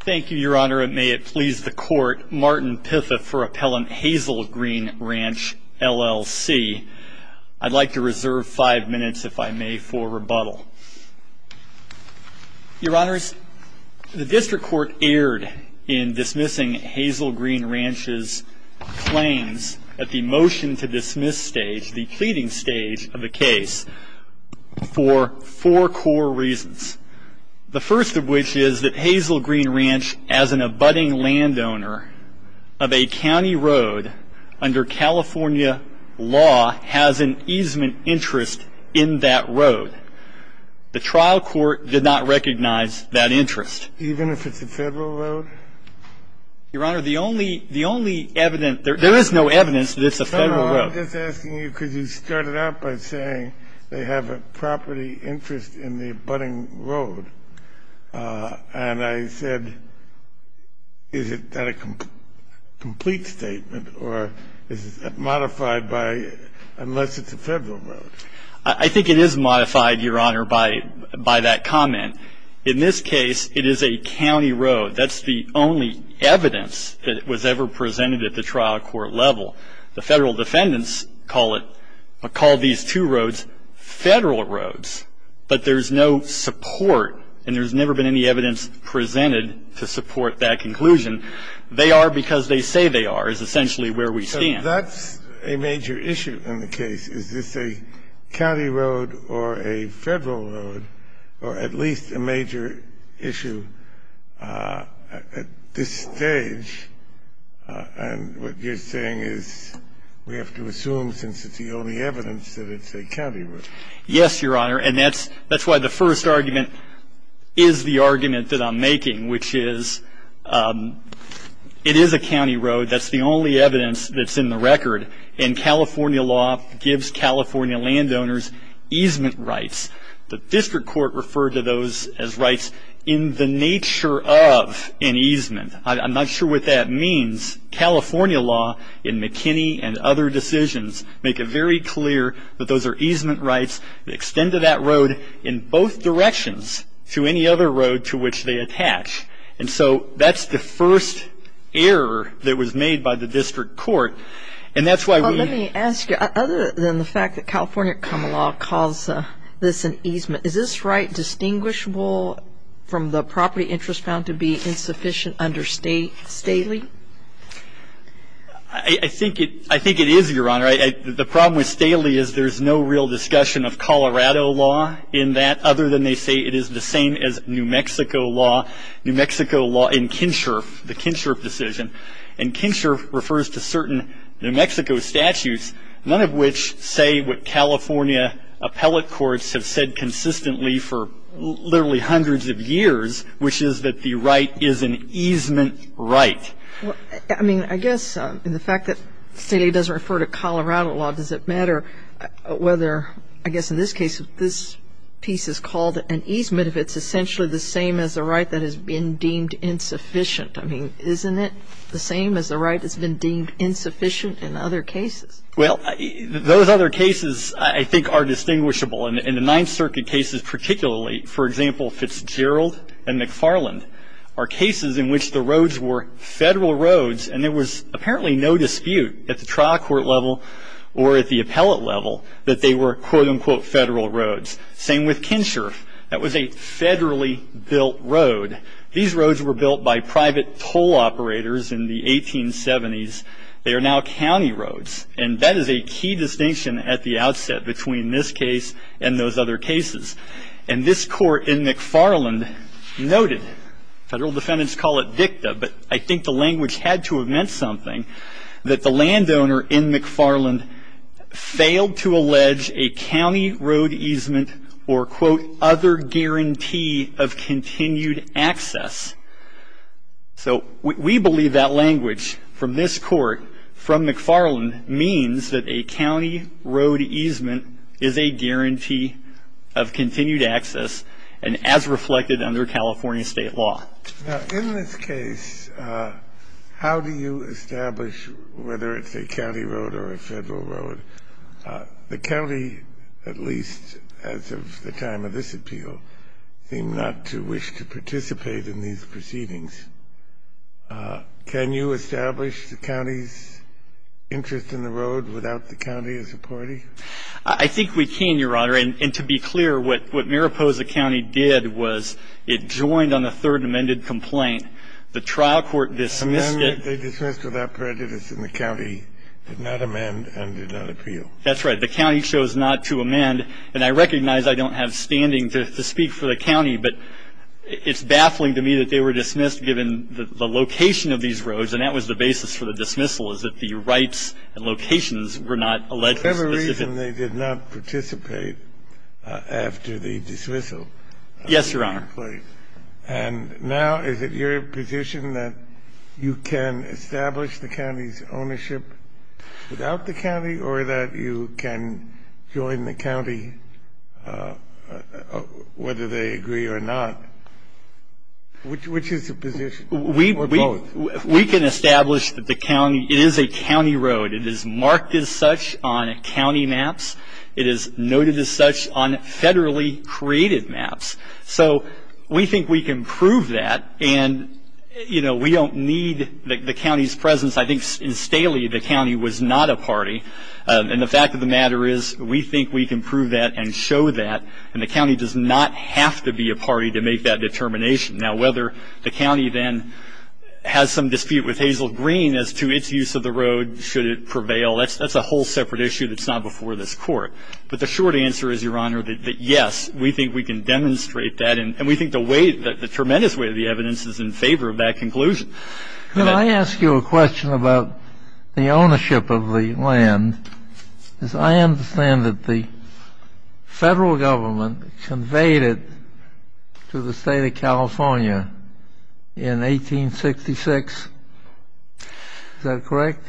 Thank you, Your Honor, and may it please the Court, Martin Piffa for Appellant Hazel Green Ranch, LLC. I'd like to reserve five minutes, if I may, for rebuttal. Your Honors, the District Court erred in dismissing Hazel Green Ranch's claims at the motion-to-dismiss stage, the pleading stage of the case, for four core reasons. The first of which is that Hazel Green Ranch, as an abutting landowner of a county road under California law, has an easement interest in that road. The trial court did not recognize that interest. Even if it's a federal road? Your Honor, the only evidence – there is no evidence that it's a federal road. I'm just asking you because you started out by saying they have a property interest in the abutting road. And I said, is that a complete statement or is it modified by unless it's a federal road? I think it is modified, Your Honor, by that comment. In this case, it is a county road. That's the only evidence that was ever presented at the trial court level. The federal defendants call it – call these two roads federal roads. But there's no support and there's never been any evidence presented to support that conclusion. They are because they say they are is essentially where we stand. So that's a major issue in the case. Is this a county road or a federal road or at least a major issue at this stage? And what you're saying is we have to assume since it's the only evidence that it's a county road. Yes, Your Honor. And that's why the first argument is the argument that I'm making, which is it is a county road. That's the only evidence that's in the record. And California law gives California landowners easement rights. The district court referred to those as rights in the nature of an easement. I'm not sure what that means. California law in McKinney and other decisions make it very clear that those are easement rights. They extend to that road in both directions to any other road to which they attach. And so that's the first error that was made by the district court. And that's why we – Well, let me ask you, other than the fact that California common law calls this an easement, is this right distinguishable from the property interest found to be insufficient under Staley? I think it is, Your Honor. The problem with Staley is there's no real discussion of Colorado law in that, other than they say it is the same as New Mexico law in Kinsherf, the Kinsherf decision. And Kinsherf refers to certain New Mexico statutes, none of which say what California appellate courts have said consistently for literally hundreds of years, which is that the right is an easement right. I mean, I guess in the fact that Staley doesn't refer to Colorado law, does it matter whether, I guess in this case, this piece is called an easement if it's essentially the same as a right that has been deemed insufficient? I mean, isn't it the same as a right that's been deemed insufficient in other cases? Well, those other cases, I think, are distinguishable. In the Ninth Circuit cases particularly, for example, Fitzgerald and McFarland, are cases in which the roads were federal roads, and there was apparently no dispute at the trial court level or at the appellate level that they were, quote, unquote, federal roads. Same with Kinsherf. That was a federally built road. These roads were built by private toll operators in the 1870s. They are now county roads. And that is a key distinction at the outset between this case and those other cases. And this court in McFarland noted, federal defendants call it dicta, but I think the language had to have meant something, that the landowner in McFarland failed to allege a county road easement or, quote, other guarantee of continued access. So we believe that language from this court, from McFarland, means that a county road easement is a guarantee of continued access, and as reflected under California state law. Now, in this case, how do you establish whether it's a county road or a federal road? The county, at least as of the time of this appeal, seemed not to wish to participate in these proceedings. Can you establish the county's interest in the road without the county as a party? I think we can, Your Honor. And to be clear, what Mariposa County did was it joined on a third amended complaint. The trial court dismissed it. The man that they dismissed without prejudice in the county did not amend and did not appeal. That's right. The county chose not to amend. And I recognize I don't have standing to speak for the county, but it's baffling to me that they were dismissed given the location of these roads, and that was the basis for the dismissal is that the rights and locations were not allegedly specific. Whatever reason, they did not participate after the dismissal of the complaint. Yes, Your Honor. And now is it your position that you can establish the county's ownership without the county or that you can join the county whether they agree or not? Which is the position? We can establish that it is a county road. It is marked as such on county maps. It is noted as such on federally created maps. So we think we can prove that, and, you know, we don't need the county's presence. I think in Staley, the county was not a party, and the fact of the matter is we think we can prove that and show that, and the county does not have to be a party to make that determination. Now, whether the county then has some dispute with Hazel Green as to its use of the road, should it prevail, that's a whole separate issue that's not before this Court. But the short answer is, Your Honor, that, yes, we think we can demonstrate that, and we think the way, the tremendous way of the evidence is in favor of that conclusion. Can I ask you a question about the ownership of the land? I understand that the federal government conveyed it to the State of California in 1866. Is that correct?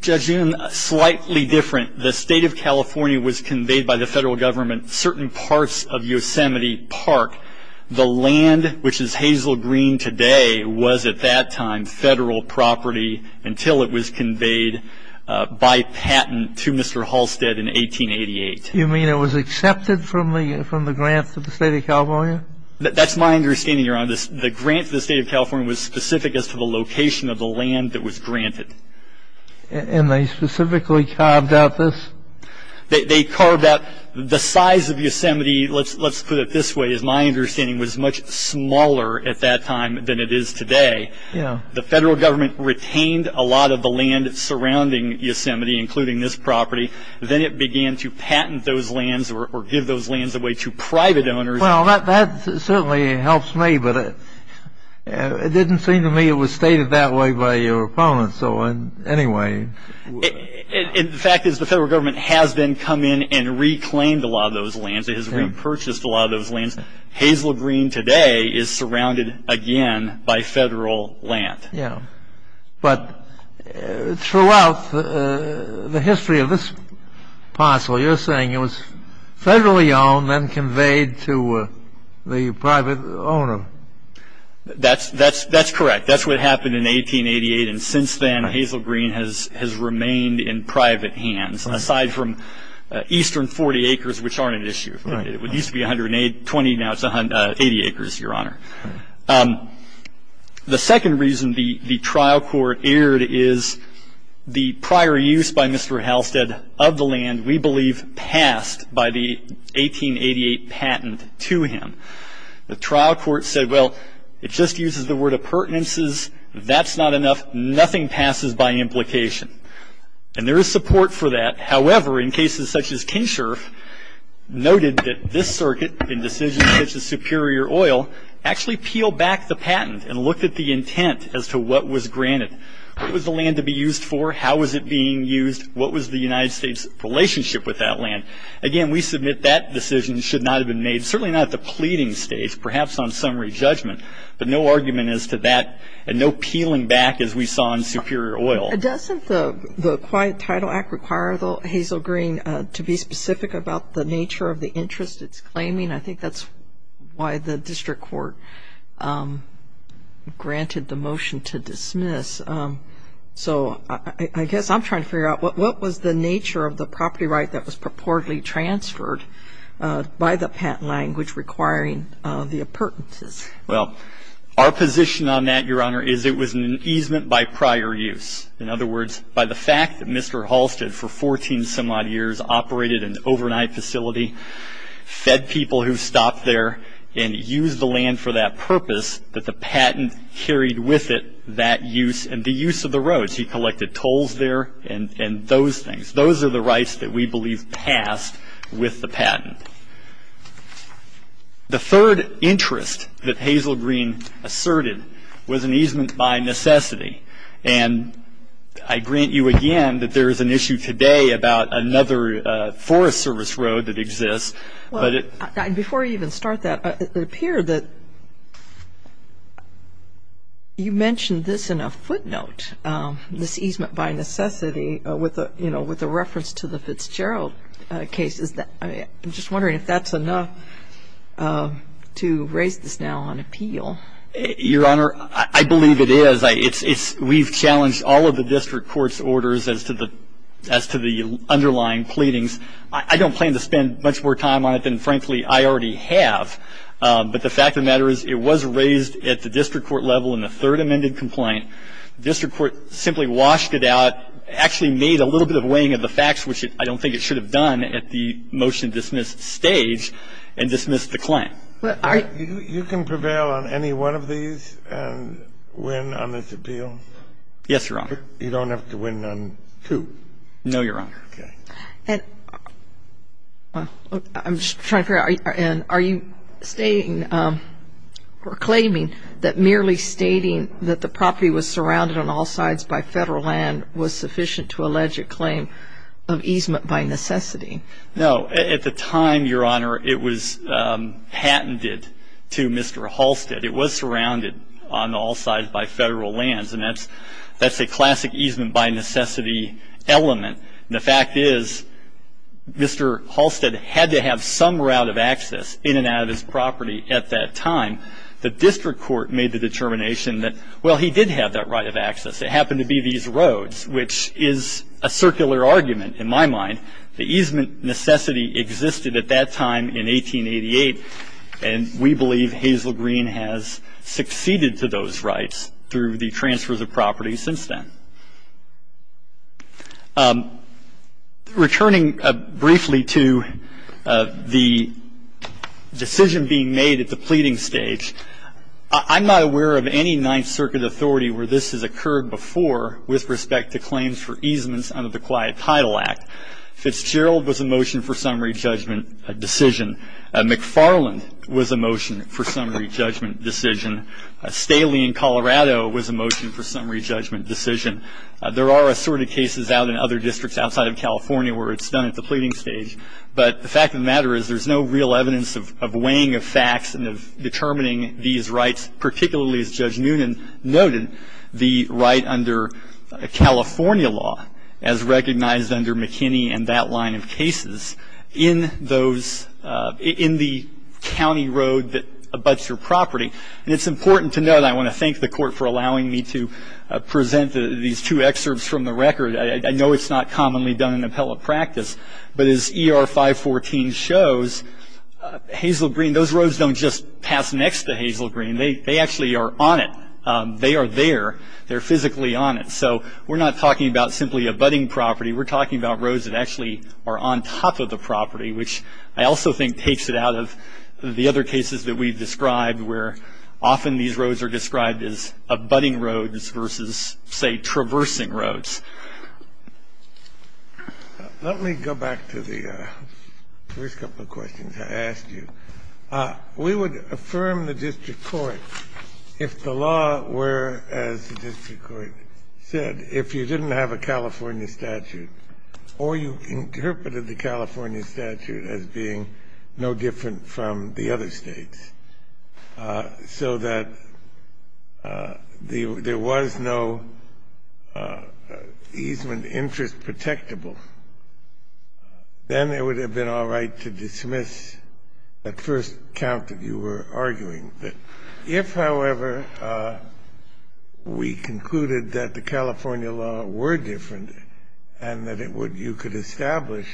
Judge, slightly different. The State of California was conveyed by the federal government certain parts of Yosemite Park. The land, which is Hazel Green today, was at that time federal property until it was conveyed by patent to Mr. Halstead in 1888. You mean it was accepted from the grant to the State of California? That's my understanding, Your Honor. The grant to the State of California was specific as to the location of the land that was granted. And they specifically carved out this? They carved out the size of Yosemite. Let's put it this way. My understanding was it was much smaller at that time than it is today. The federal government retained a lot of the land surrounding Yosemite, including this property. Then it began to patent those lands or give those lands away to private owners. Well, that certainly helps me, but it didn't seem to me it was stated that way by your opponent. So anyway. The fact is the federal government has then come in and reclaimed a lot of those lands. It has repurchased a lot of those lands. Hazel Green today is surrounded again by federal land. Yeah, but throughout the history of this parcel, you're saying it was federally owned then conveyed to the private owner. That's correct. That's what happened in 1888. And since then, Hazel Green has remained in private hands, aside from eastern 40 acres, which aren't an issue. It used to be 120. Now it's 80 acres, Your Honor. The second reason the trial court erred is the prior use by Mr. Halstead of the land, we believe passed by the 1888 patent to him. The trial court said, well, it just uses the word of pertinences. That's not enough. Nothing passes by implication. And there is support for that. However, in cases such as Kinshore, noted that this circuit in decisions such as Superior Oil, actually peeled back the patent and looked at the intent as to what was granted. What was the land to be used for? How was it being used? What was the United States' relationship with that land? Again, we submit that decision should not have been made, certainly not at the pleading stage, perhaps on summary judgment. But no argument as to that and no peeling back as we saw in Superior Oil. Doesn't the Quiet Title Act require, though, Hazel Green, to be specific about the nature of the interest it's claiming? I think that's why the district court granted the motion to dismiss. So I guess I'm trying to figure out what was the nature of the property right that was purportedly transferred by the patent language requiring the appurtenances? Well, our position on that, Your Honor, is it was an easement by prior use. In other words, by the fact that Mr. Halstead for 14 some odd years operated an overnight facility, fed people who stopped there, and used the land for that purpose, that the patent carried with it that use and the use of the roads. He collected tolls there and those things. The third interest that Hazel Green asserted was an easement by necessity. And I grant you again that there is an issue today about another forest service road that exists. Before I even start that, it appeared that you mentioned this in a footnote, this easement by necessity with a reference to the Fitzgerald case. I'm just wondering if that's enough to raise this now on appeal. Your Honor, I believe it is. We've challenged all of the district court's orders as to the underlying pleadings. I don't plan to spend much more time on it than, frankly, I already have. But the fact of the matter is it was raised at the district court level in the third amended complaint. The district court simply washed it out, actually made a little bit of weighing of the facts, which I don't think it should have done at the motion-dismissed stage, and dismissed the claim. You can prevail on any one of these and win on this appeal? Yes, Your Honor. You don't have to win on two? No, Your Honor. Okay. And I'm just trying to figure out, are you stating or claiming that merely stating that the property was surrounded on all sides by federal land was sufficient to allege a claim of easement by necessity? No. At the time, Your Honor, it was patented to Mr. Halstead. It was surrounded on all sides by federal lands, and that's a classic easement by necessity element. And the fact is Mr. Halstead had to have some route of access in and out of his property at that time. The district court made the determination that, well, he did have that right of access. It happened to be these roads, which is a circular argument in my mind. The easement necessity existed at that time in 1888, and we believe Hazel Green has succeeded to those rights through the transfers of property since then. Returning briefly to the decision being made at the pleading stage, I'm not aware of any Ninth Circuit authority where this has occurred before with respect to claims for easements under the Quiet Title Act. Fitzgerald was a motion for summary judgment decision. McFarland was a motion for summary judgment decision. Staley in Colorado was a motion for summary judgment decision. There are assorted cases out in other districts outside of California where it's done at the pleading stage, but the fact of the matter is there's no real evidence of weighing of facts and of determining these rights, particularly, as Judge Noonan noted, the right under California law as recognized under McKinney and that line of cases in the county road that abuts your property. And it's important to note, I want to thank the court for allowing me to present these two excerpts from the record. I know it's not commonly done in appellate practice, but as ER 514 shows, Hazel Green, those roads don't just pass next to Hazel Green. They actually are on it. They are there. They're physically on it. So we're not talking about simply abutting property. We're talking about roads that actually are on top of the property, which I also think takes it out of the other cases that we've described, where often these roads are described as abutting roads versus, say, traversing roads. Let me go back to the first couple of questions I asked you. We would affirm the district court if the law were, as the district court said, if you didn't have a California statute or you interpreted the California statute as being no different from the other states so that there was no easement interest protectable, then it would have been all right to dismiss that first count that you were arguing. If, however, we concluded that the California law were different and that it would you could establish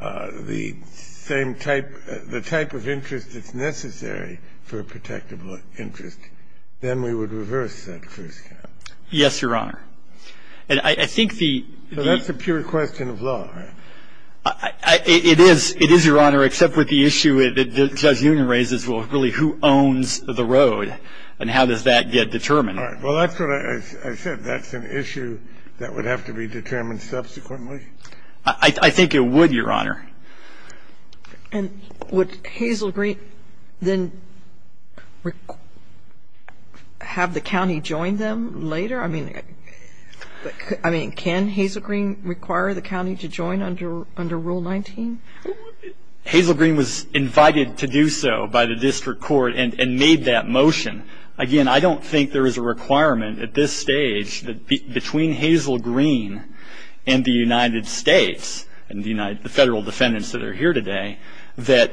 the same type, the type of interest that's necessary for a protectable interest, then we would reverse that first count. Yes, Your Honor. And I think the... So that's a pure question of law, right? It is. It is, Your Honor, except with the issue that Judge Unum raises, well, really, who owns the road and how does that get determined? Well, that's what I said. That's an issue that would have to be determined subsequently. I think it would, Your Honor. And would Hazel Green then have the county join them later? I mean, can Hazel Green require the county to join under Rule 19? Hazel Green was invited to do so by the district court and made that motion. Again, I don't think there is a requirement at this stage between Hazel Green and the United States and the federal defendants that are here today that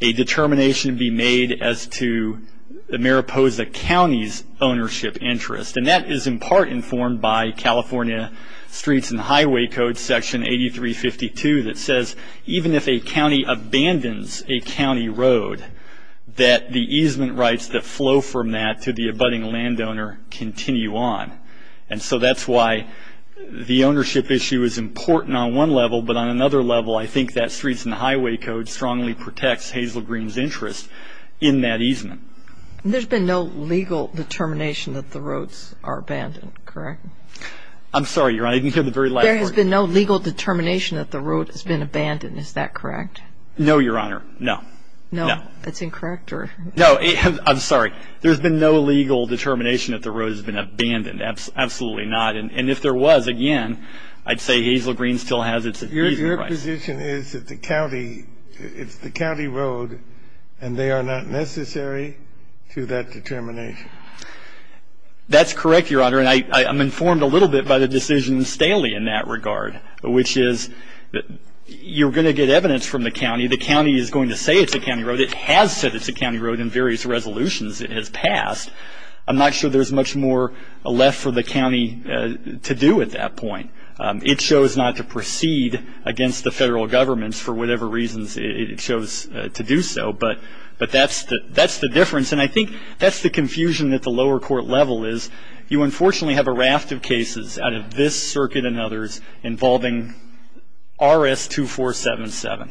a determination be made as to the Mariposa County's ownership interest. And that is in part informed by California Streets and Highway Code Section 8352 that says even if a county abandons a county road, that the easement rights that flow from that to the abutting landowner continue on. And so that's why the ownership issue is important on one level, but on another level I think that Streets and Highway Code strongly protects Hazel Green's interest in that easement. And there's been no legal determination that the roads are abandoned, correct? I'm sorry, Your Honor. I didn't hear the very last part. There has been no legal determination that the road has been abandoned, is that correct? No, Your Honor. No. No. That's incorrect? No, I'm sorry. There's been no legal determination that the road has been abandoned, absolutely not. And if there was, again, I'd say Hazel Green still has its easement rights. Your position is that the county, it's the county road, and they are not necessary to that determination. That's correct, Your Honor. And I'm informed a little bit by the decision in Staley in that regard, which is you're going to get evidence from the county. The county is going to say it's a county road. It has said it's a county road in various resolutions it has passed. I'm not sure there's much more left for the county to do at that point. It chose not to proceed against the federal governments for whatever reasons it chose to do so, but that's the difference. And I think that's the confusion at the lower court level is you, unfortunately, have a raft of cases out of this circuit and others involving RS-2477.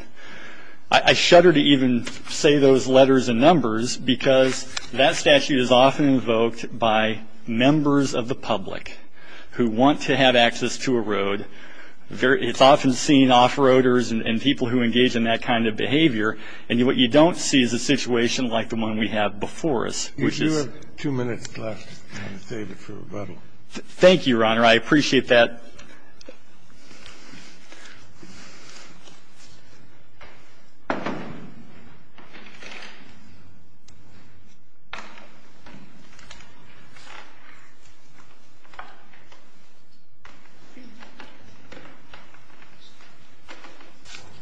I shudder to even say those letters and numbers because that statute is often invoked by members of the public who want to have access to a road. It's often seen off-roaders and people who engage in that kind of behavior, and what you don't see is a situation like the one we have before us, which is. If you have two minutes left, I'm going to save it for rebuttal. Thank you, Your Honor. I appreciate that.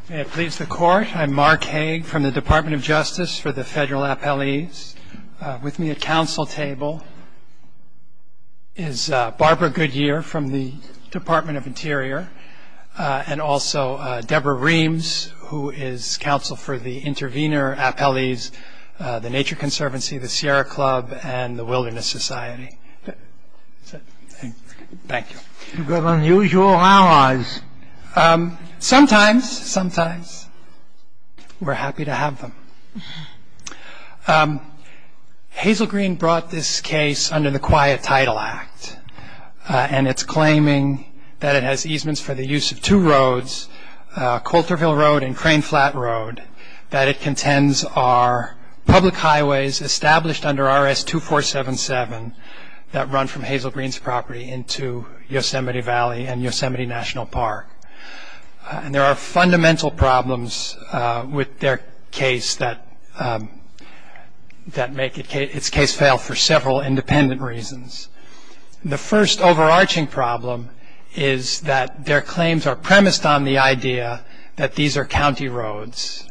May it please the Court. I'm Mark Hague from the Department of Justice for the federal appellees. With me at counsel table is Barbara Goodyear from the Department of Interior, and also Deborah Reams, who is counsel for the intervener appellees, the Nature Conservancy, the Sierra Club, and the Wilderness Society. Thank you. You've got unusual allies. Sometimes, sometimes we're happy to have them. Hazel Green brought this case under the Quiet Title Act, and it's claiming that it has easements for the use of two roads, Colterville Road and Crane Flat Road, that it contends are public highways established under RS-2477 that run from Hazel Green's property into Yosemite Valley and Yosemite National Park. There are fundamental problems with their case that make its case fail for several independent reasons. The first overarching problem is that their claims are premised on the idea that these are county roads,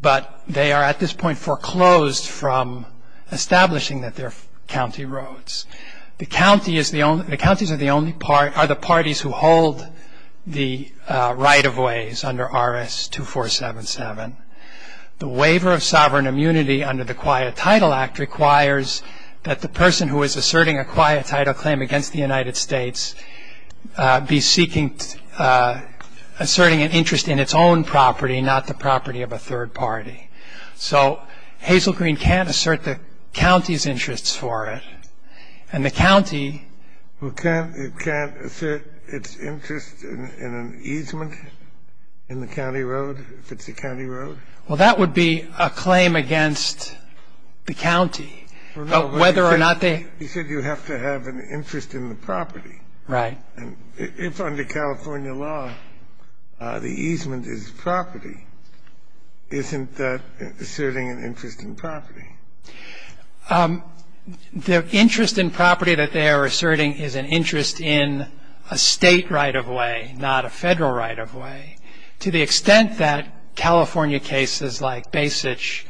but they are at this point foreclosed from establishing that they're county roads. The counties are the parties who hold the right-of-ways under RS-2477. The waiver of sovereign immunity under the Quiet Title Act requires that the person who is asserting a quiet title claim against the United States be seeking, asserting an interest in its own property, not the property of a third party. So Hazel Green can't assert the county's interests for it, and the county... Well, can't it assert its interest in an easement in the county road, if it's a county road? Well, that would be a claim against the county, whether or not they... You said you have to have an interest in the property. Right. And if under California law the easement is property, isn't that asserting an interest in property? The interest in property that they are asserting is an interest in a state right-of-way, not a federal right-of-way. To the extent that California cases like Basich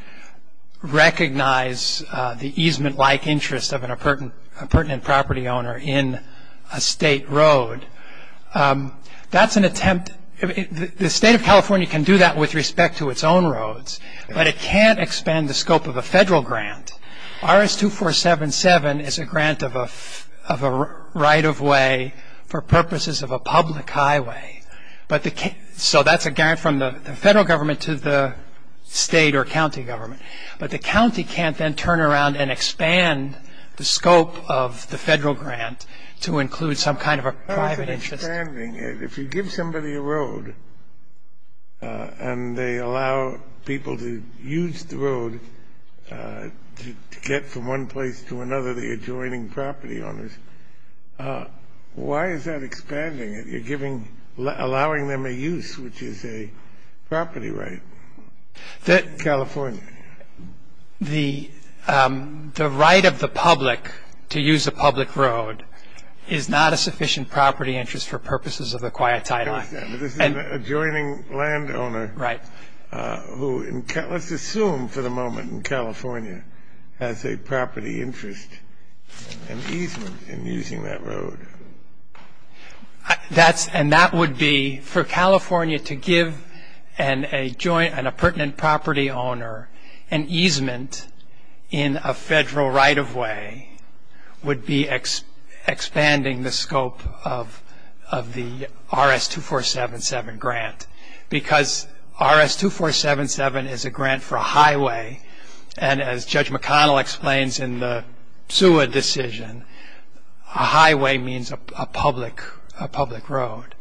recognize the easement-like interest of a pertinent property owner in a state road, that's an attempt... The state of California can do that with respect to its own roads, but it can't expand the scope of a federal grant. RS-2477 is a grant of a right-of-way for purposes of a public highway, so that's a grant from the federal government to the state or county government. But the county can't then turn around and expand the scope of the federal grant to include some kind of a private interest. If you give somebody a road and they allow people to use the road to get from one place to another, the adjoining property owners, why is that expanding it? You're giving, allowing them a use, which is a property right. California. The right of the public to use a public road is not a sufficient property interest for purposes of the quiet sidewalk. I understand. But this is an adjoining landowner... Right. ...who, let's assume for the moment in California, has a property interest and easement in using that road. And that would be, for California to give an appurtenant property owner an easement in a federal right-of-way, would be expanding the scope of the RS-2477 grant, because RS-2477 is a grant for a highway, and as Judge McConnell explains in the Seward decision, a highway means a public road.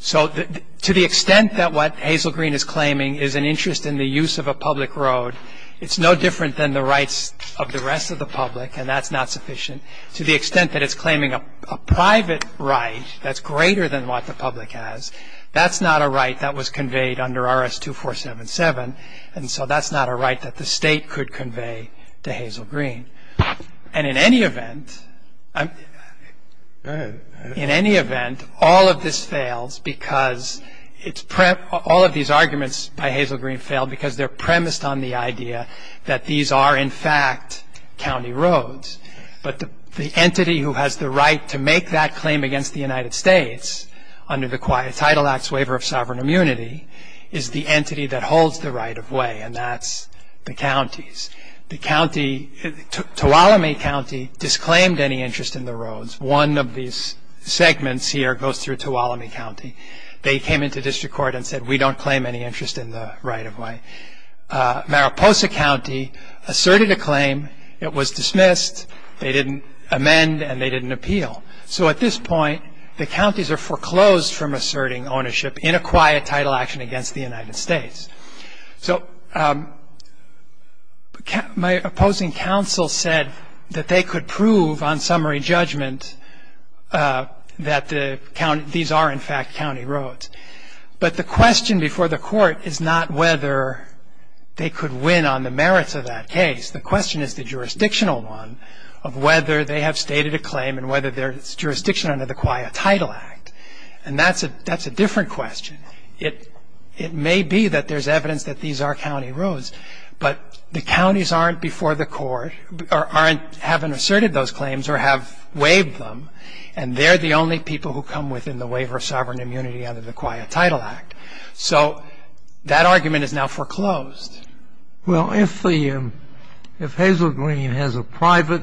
So to the extent that what Hazel Green is claiming is an interest in the use of a public road, it's no different than the rights of the rest of the public, and that's not sufficient. To the extent that it's claiming a private right that's greater than what the public has, that's not a right that was conveyed under RS-2477. And so that's not a right that the state could convey to Hazel Green. And in any event, all of these arguments by Hazel Green fail because they're premised on the idea that these are, in fact, county roads. But the entity who has the right to make that claim against the United States under the Title Acts Waiver of Sovereign Immunity is the entity that holds the right-of-way, and that's the counties. The county, Tuolumne County, disclaimed any interest in the roads. One of these segments here goes through Tuolumne County. They came into district court and said, we don't claim any interest in the right-of-way. Mariposa County asserted a claim. It was dismissed. They didn't amend, and they didn't appeal. So at this point, the counties are foreclosed from asserting ownership in a quiet title action against the United States. So my opposing counsel said that they could prove on summary judgment that these are, in fact, county roads. But the question before the court is not whether they could win on the merits of that case. The question is the jurisdictional one of whether they have stated a claim and whether there's jurisdiction under the Quiet Title Act. And that's a different question. It may be that there's evidence that these are county roads, but the counties aren't before the court or haven't asserted those claims or have waived them, and they're the only people who come within the Waiver of Sovereign Immunity under the Quiet Title Act. So that argument is now foreclosed. Well, if Hazel Green has a private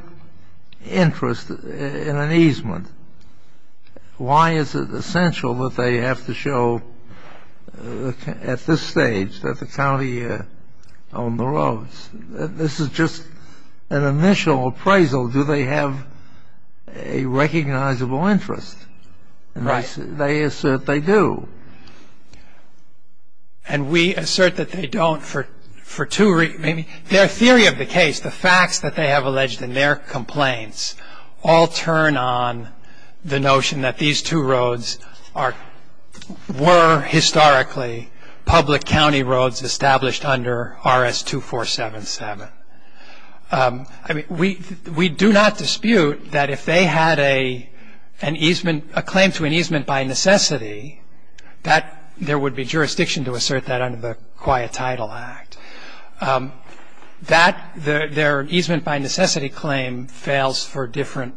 interest in an easement, why is it essential that they have to show at this stage that the county owned the roads? This is just an initial appraisal. Do they have a recognizable interest? Right. They assert they do. And we assert that they don't for two reasons. Their theory of the case, the facts that they have alleged in their complaints, all turn on the notion that these two roads were historically public county roads established under RS-2477. I mean, we do not dispute that if they had a claim to an easement by necessity, that there would be jurisdiction to assert that under the Quiet Title Act. Their easement by necessity claim fails for different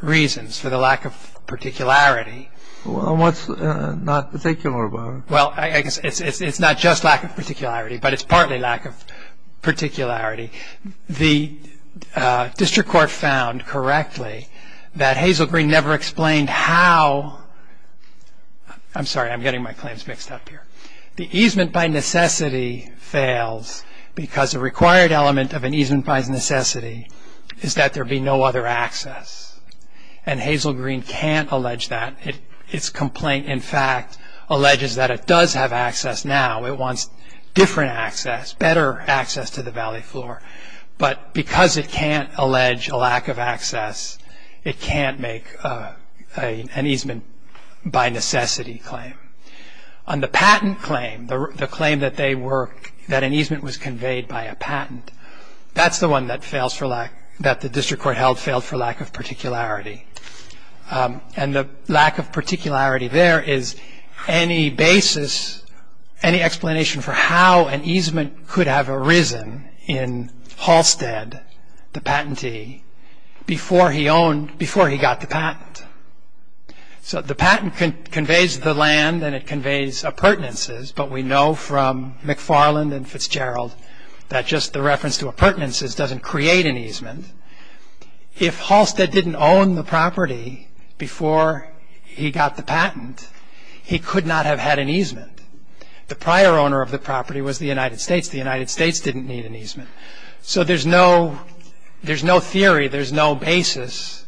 reasons, for the lack of particularity. Well, what's not particular about it? Well, it's not just lack of particularity, but it's partly lack of particularity. The district court found correctly that Hazel Green never explained how – I'm sorry, I'm getting my claims mixed up here. The easement by necessity fails because the required element of an easement by necessity is that there be no other access. And Hazel Green can't allege that. Its complaint, in fact, alleges that it does have access now. It wants different access, better access to the valley floor. But because it can't allege a lack of access, it can't make an easement by necessity claim. On the patent claim, the claim that an easement was conveyed by a patent, that's the one that the district court held failed for lack of particularity. And the lack of particularity there is any basis, any explanation for how an easement could have arisen in Halstead, the patentee, before he got the patent. So the patent conveys the land and it conveys appurtenances, but we know from McFarland and Fitzgerald that just the reference to appurtenances doesn't create an easement. If Halstead didn't own the property before he got the patent, he could not have had an easement. The prior owner of the property was the United States. The United States didn't need an easement. So there's no theory, there's no basis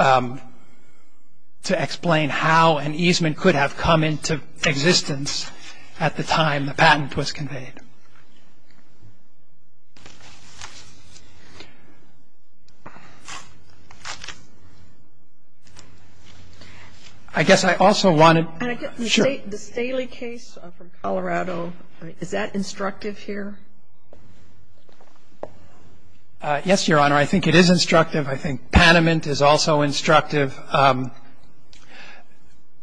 to explain how an easement could have come into existence at the time the patent was conveyed. Thank you. I guess I also want to... And again, the Staley case from Colorado, is that instructive here? Yes, Your Honor. I think it is instructive. I think Panamint is also instructive.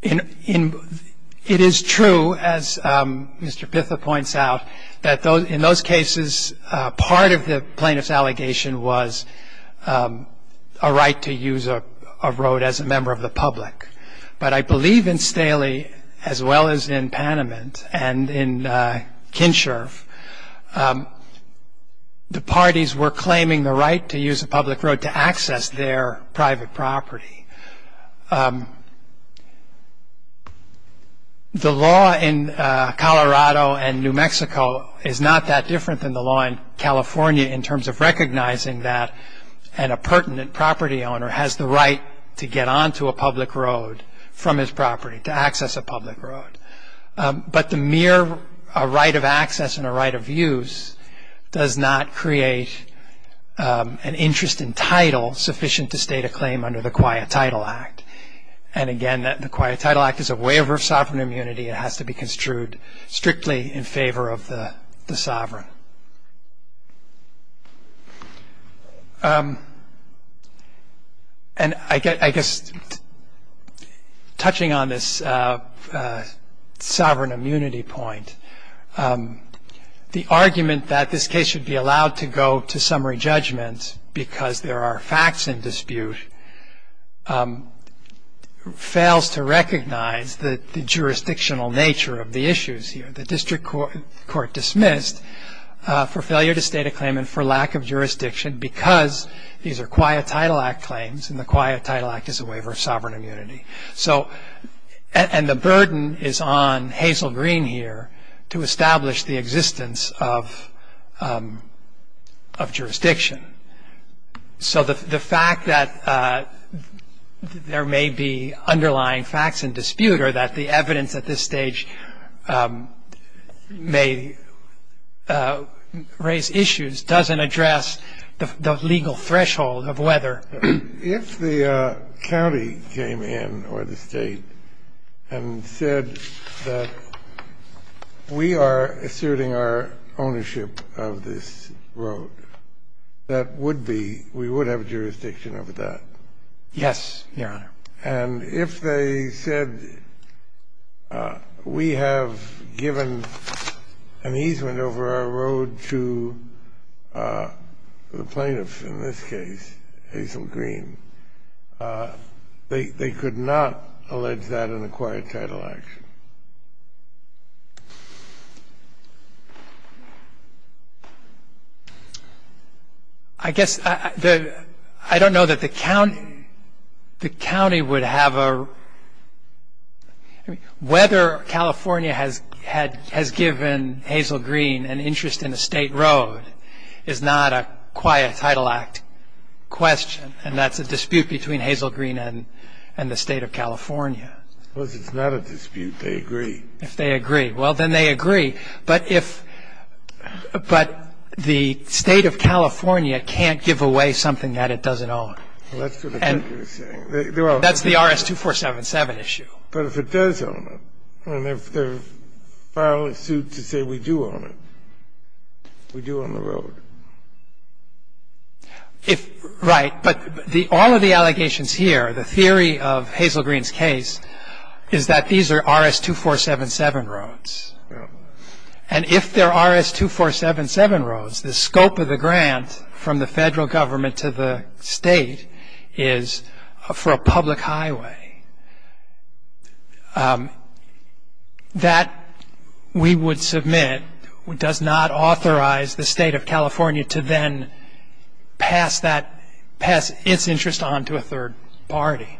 It is true, as Mr. Pitha points out, that in those cases, part of the plaintiff's allegation was a right to use a road as a member of the public. But I believe in Staley, as well as in Panamint and in Kinsherf, the parties were claiming the right to use a public road to access their private property. The law in Colorado and New Mexico is not that different than the law in California in terms of recognizing that a pertinent property owner has the right to get onto a public road from his property, to access a public road. But the mere right of access and a right of use does not create an interest in title sufficient to state a claim under the Quiet Title Act. And again, the Quiet Title Act is a waiver of sovereign immunity. It has to be construed strictly in favor of the sovereign. And I guess, touching on this sovereign immunity point, the argument that this case should be allowed to go to summary judgment because there are facts in dispute fails to recognize the jurisdictional nature of the issues here. The district court dismissed for failure to state a claim and for lack of jurisdiction because these are Quiet Title Act claims and the Quiet Title Act is a waiver of sovereign immunity. And the burden is on Hazel Green here to establish the existence of jurisdiction. So the fact that there may be underlying facts in dispute or that the evidence at this stage may raise issues doesn't address the legal threshold of whether. If the county came in or the State and said that we are asserting our ownership of this road, that would be we would have jurisdiction over that? Yes, Your Honor. And if they said we have given an easement over our road to the plaintiff in this case, Hazel Green, they could not allege that in a Quiet Title Act? I guess I don't know that the county would have a – whether California has given Hazel Green an interest in a State road is not a Quiet Title Act question, and that's a dispute between Hazel Green and the State of California. Suppose it's not a dispute. They agree. If they agree. Well, then they agree. But if – but the State of California can't give away something that it doesn't own. Well, that's what I think you're saying. That's the RS-2477 issue. But if it does own it, and if they file a suit to say we do own it, we do own the road. If – right. But all of the allegations here, the theory of Hazel Green's case, is that these are RS-2477 roads. And if they're RS-2477 roads, the scope of the grant from the Federal Government to the State is for a public highway. That, we would submit, does not authorize the State of California to then pass that – pass its interest on to a third party.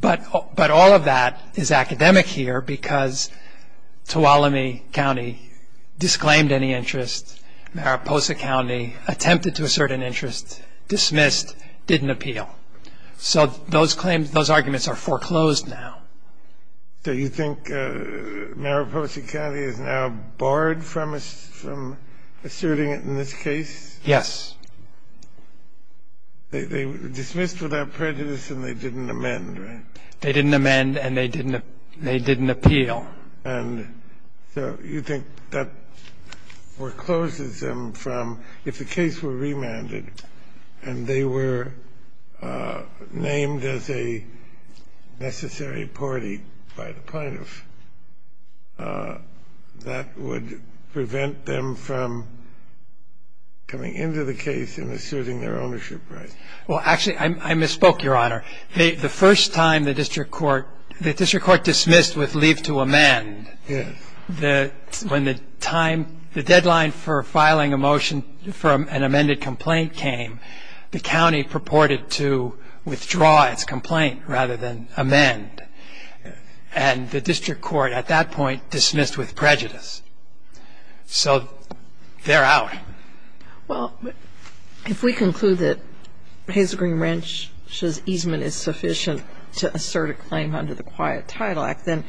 But all of that is academic here because Tuolumne County disclaimed any interest, Mariposa County attempted to assert an interest, dismissed, didn't appeal. So those claims – those arguments are foreclosed now. So you think Mariposa County is now barred from asserting it in this case? Yes. They dismissed without prejudice and they didn't amend, right? They didn't amend and they didn't appeal. And so you think that forecloses them from – if the case were remanded and they were named as a necessary party by the plaintiff, that would prevent them from coming into the case and asserting their ownership rights? Well, actually, I misspoke, Your Honor. The first time the district court – the district court dismissed with leave to amend. Yes. When the time – the deadline for filing a motion for an amended complaint came, the county purported to withdraw its complaint rather than amend. And the district court at that point dismissed with prejudice. So they're out. Well, if we conclude that Hazel Green Ranch's easement is sufficient to assert a claim under the Quiet Title Act, then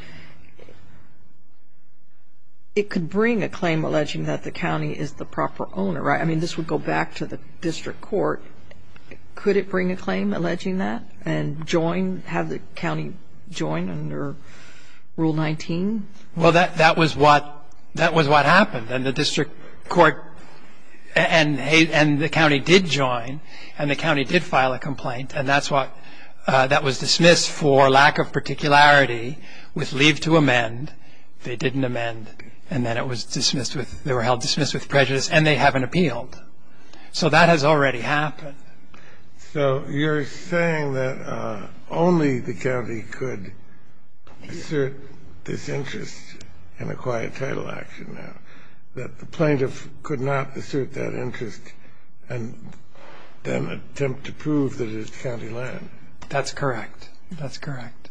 it could bring a claim alleging that the county is the proper owner, right? I mean, this would go back to the district court. Could it bring a claim alleging that and join – have the county join under Rule 19? Well, that was what happened. And the district court – and the county did join, and the county did file a complaint, and that's what – that was dismissed for lack of particularity with leave to amend. They didn't amend, and then it was dismissed with – they were held dismissed with prejudice, and they haven't appealed. So that has already happened. So you're saying that only the county could assert this interest in a Quiet Title Action now, that the plaintiff could not assert that interest and then attempt to prove that it's county land. That's correct. That's correct.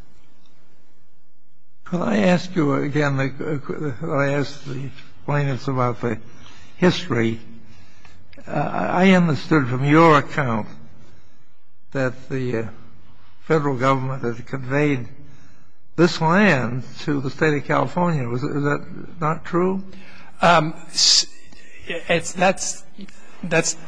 Well, I ask you again – I ask the plaintiffs about the history. I understood from your account that the federal government had conveyed this land to the state of California. Is that not true? It's – that's –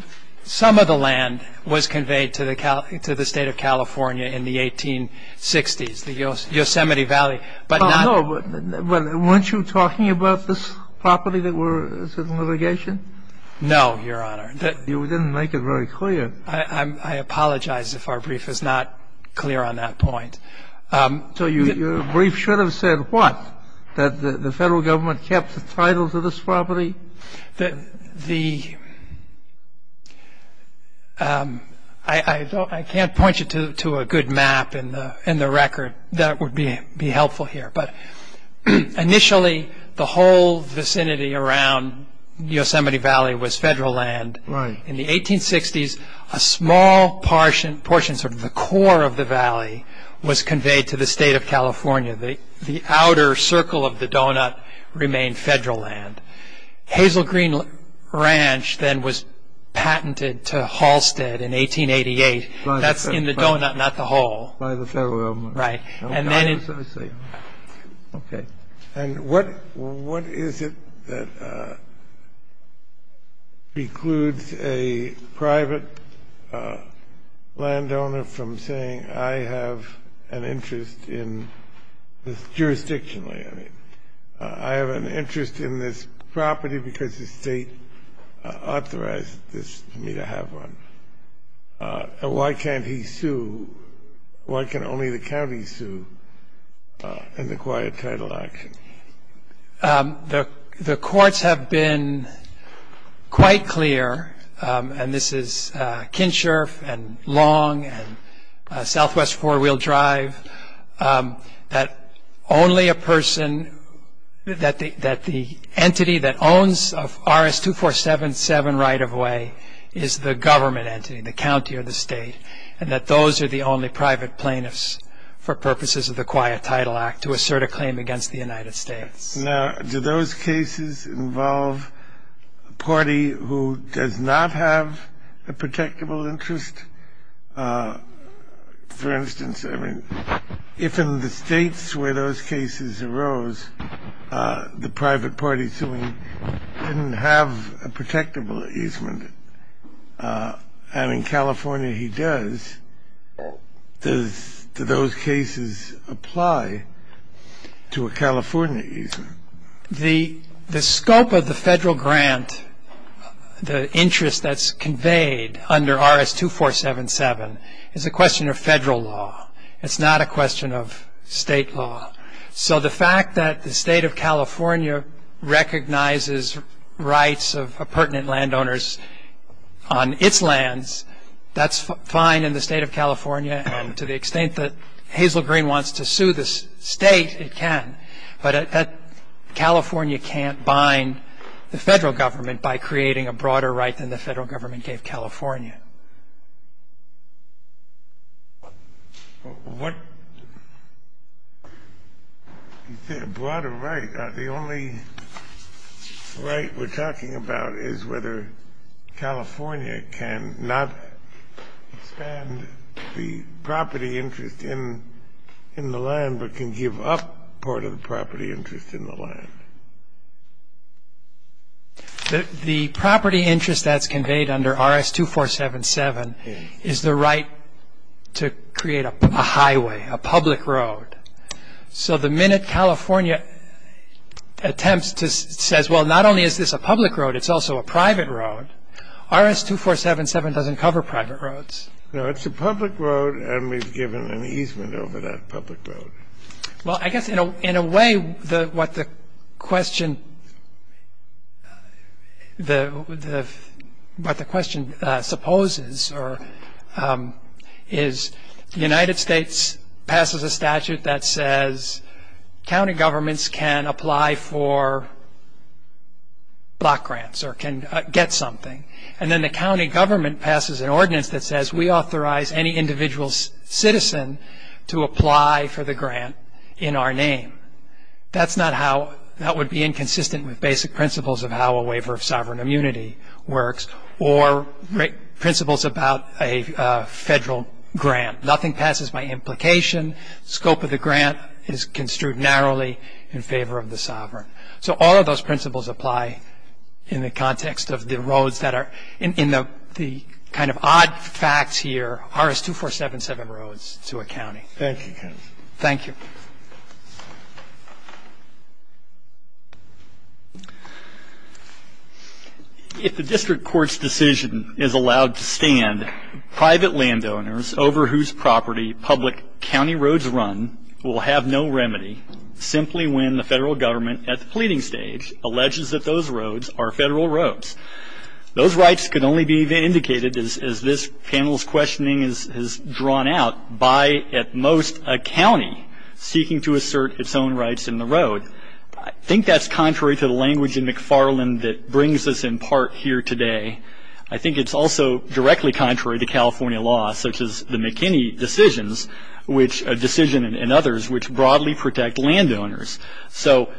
some of the land was conveyed to the state of California in the 1860s, the Yosemite Valley. But not – Oh, no. Weren't you talking about this property that was in litigation? No, Your Honor. You didn't make it very clear. I apologize if our brief is not clear on that point. So your brief should have said what? That the federal government kept the title to this property? The – I can't point you to a good map in the record. That would be helpful here. But initially, the whole vicinity around Yosemite Valley was federal land. Right. In the 1860s, a small portion, sort of the core of the valley, was conveyed to the state of California. The outer circle of the donut remained federal land. Hazel Green Ranch then was patented to Halstead in 1888. That's in the donut, not the hole. By the federal government. Right. And then it – Okay. And what is it that precludes a private landowner from saying, I have an interest in this jurisdictionally? I mean, I have an interest in this property because the state authorized this to me to have one. Why can't he sue? Why can only the county sue in the quiet title action? The courts have been quite clear, and this is Kinsherf and Long and Southwest Four-Wheel Drive, that only a person – that the entity that owns RS-2477 right-of-way is the government entity, the county or the state, and that those are the only private plaintiffs for purposes of the Quiet Title Act to assert a claim against the United States. Now, do those cases involve a party who does not have a protectable interest? For instance, I mean, if in the states where those cases arose, the private party suing didn't have a protectable easement, and in California he does, do those cases apply to a California easement? The scope of the federal grant, the interest that's conveyed under RS-2477, is a question of federal law. It's not a question of state law. So the fact that the state of California recognizes rights of pertinent landowners on its lands, that's fine in the state of California, and to the extent that Hazel Green wants to sue the state, it can. But California can't bind the federal government by creating a broader right than the federal government gave California. The only right we're talking about is whether California can not expand the property interest in the land but can give up part of the property interest in the land. The property interest that's conveyed under RS-2477 is the right to create a highway, a public road. So the minute California attempts to say, well, not only is this a public road, it's also a private road, RS-2477 doesn't cover private roads. No, it's a public road, and we've given an easement over that public road. Well, I guess in a way what the question supposes is the United States passes a statute that says county governments can apply for block grants or can get something, and then the county government passes an ordinance that says we authorize any individual citizen to apply for the grant in our name. That would be inconsistent with basic principles of how a waiver of sovereign immunity works or principles about a federal grant. Nothing passes by implication. Scope of the grant is construed narrowly in favor of the sovereign. So all of those principles apply in the context of the roads that are in the kind of odd facts here, RS-2477 roads to a county. Thank you, counsel. Thank you. If the district court's decision is allowed to stand, private landowners over whose property public county roads run will have no remedy simply when the federal government at the pleading stage alleges that those roads are federal roads. Those rights could only be indicated, as this panel's questioning has drawn out, by at most a county seeking to assert its own rights in the road. I think that's contrary to the language in McFarland that brings us in part here today. I think it's also directly contrary to California law, such as the McKinney decisions, which a decision and others which broadly protect landowners. So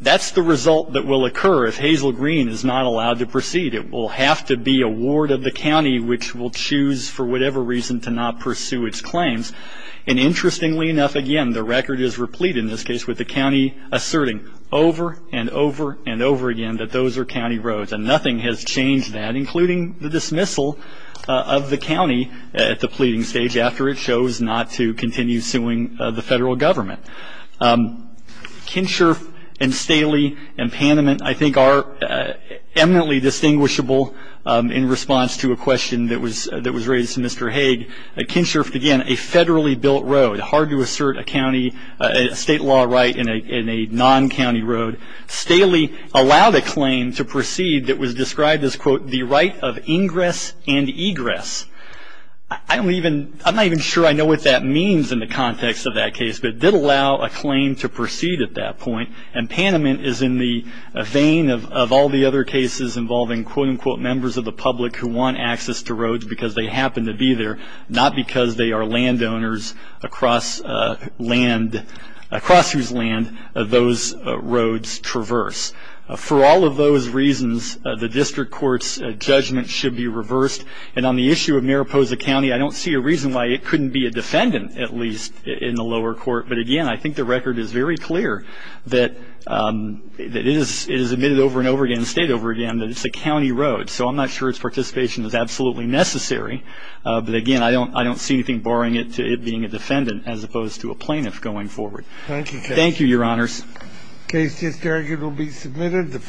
that's the result that will occur if Hazel Green is not allowed to proceed. It will have to be a ward of the county which will choose for whatever reason to not pursue its claims. And interestingly enough, again, the record is replete in this case with the county asserting over and over and over again that those are county roads. And nothing has changed that, including the dismissal of the county at the pleading stage after it chose not to continue suing the federal government. Kinsherf and Staley and Panamint, I think, are eminently distinguishable in response to a question that was raised to Mr. Hague. Kinsherf, again, a federally built road, hard to assert a state law right in a non-county road. Staley allowed a claim to proceed that was described as, quote, the right of ingress and egress. I'm not even sure I know what that means in the context of that case, but it did allow a claim to proceed at that point. And Panamint is in the vein of all the other cases involving, quote, unquote, members of the public who want access to roads because they happen to be there, not because they are landowners across whose land those roads traverse. For all of those reasons, the district court's judgment should be reversed. And on the issue of Mariposa County, I don't see a reason why it couldn't be a defendant, at least, in the lower court. But, again, I think the record is very clear that it is admitted over and over again, state over again, that it's a county road. So I'm not sure its participation is absolutely necessary. But, again, I don't see anything barring it to it being a defendant as opposed to a plaintiff going forward. Thank you. Thank you, Your Honors. The case just argued will be submitted.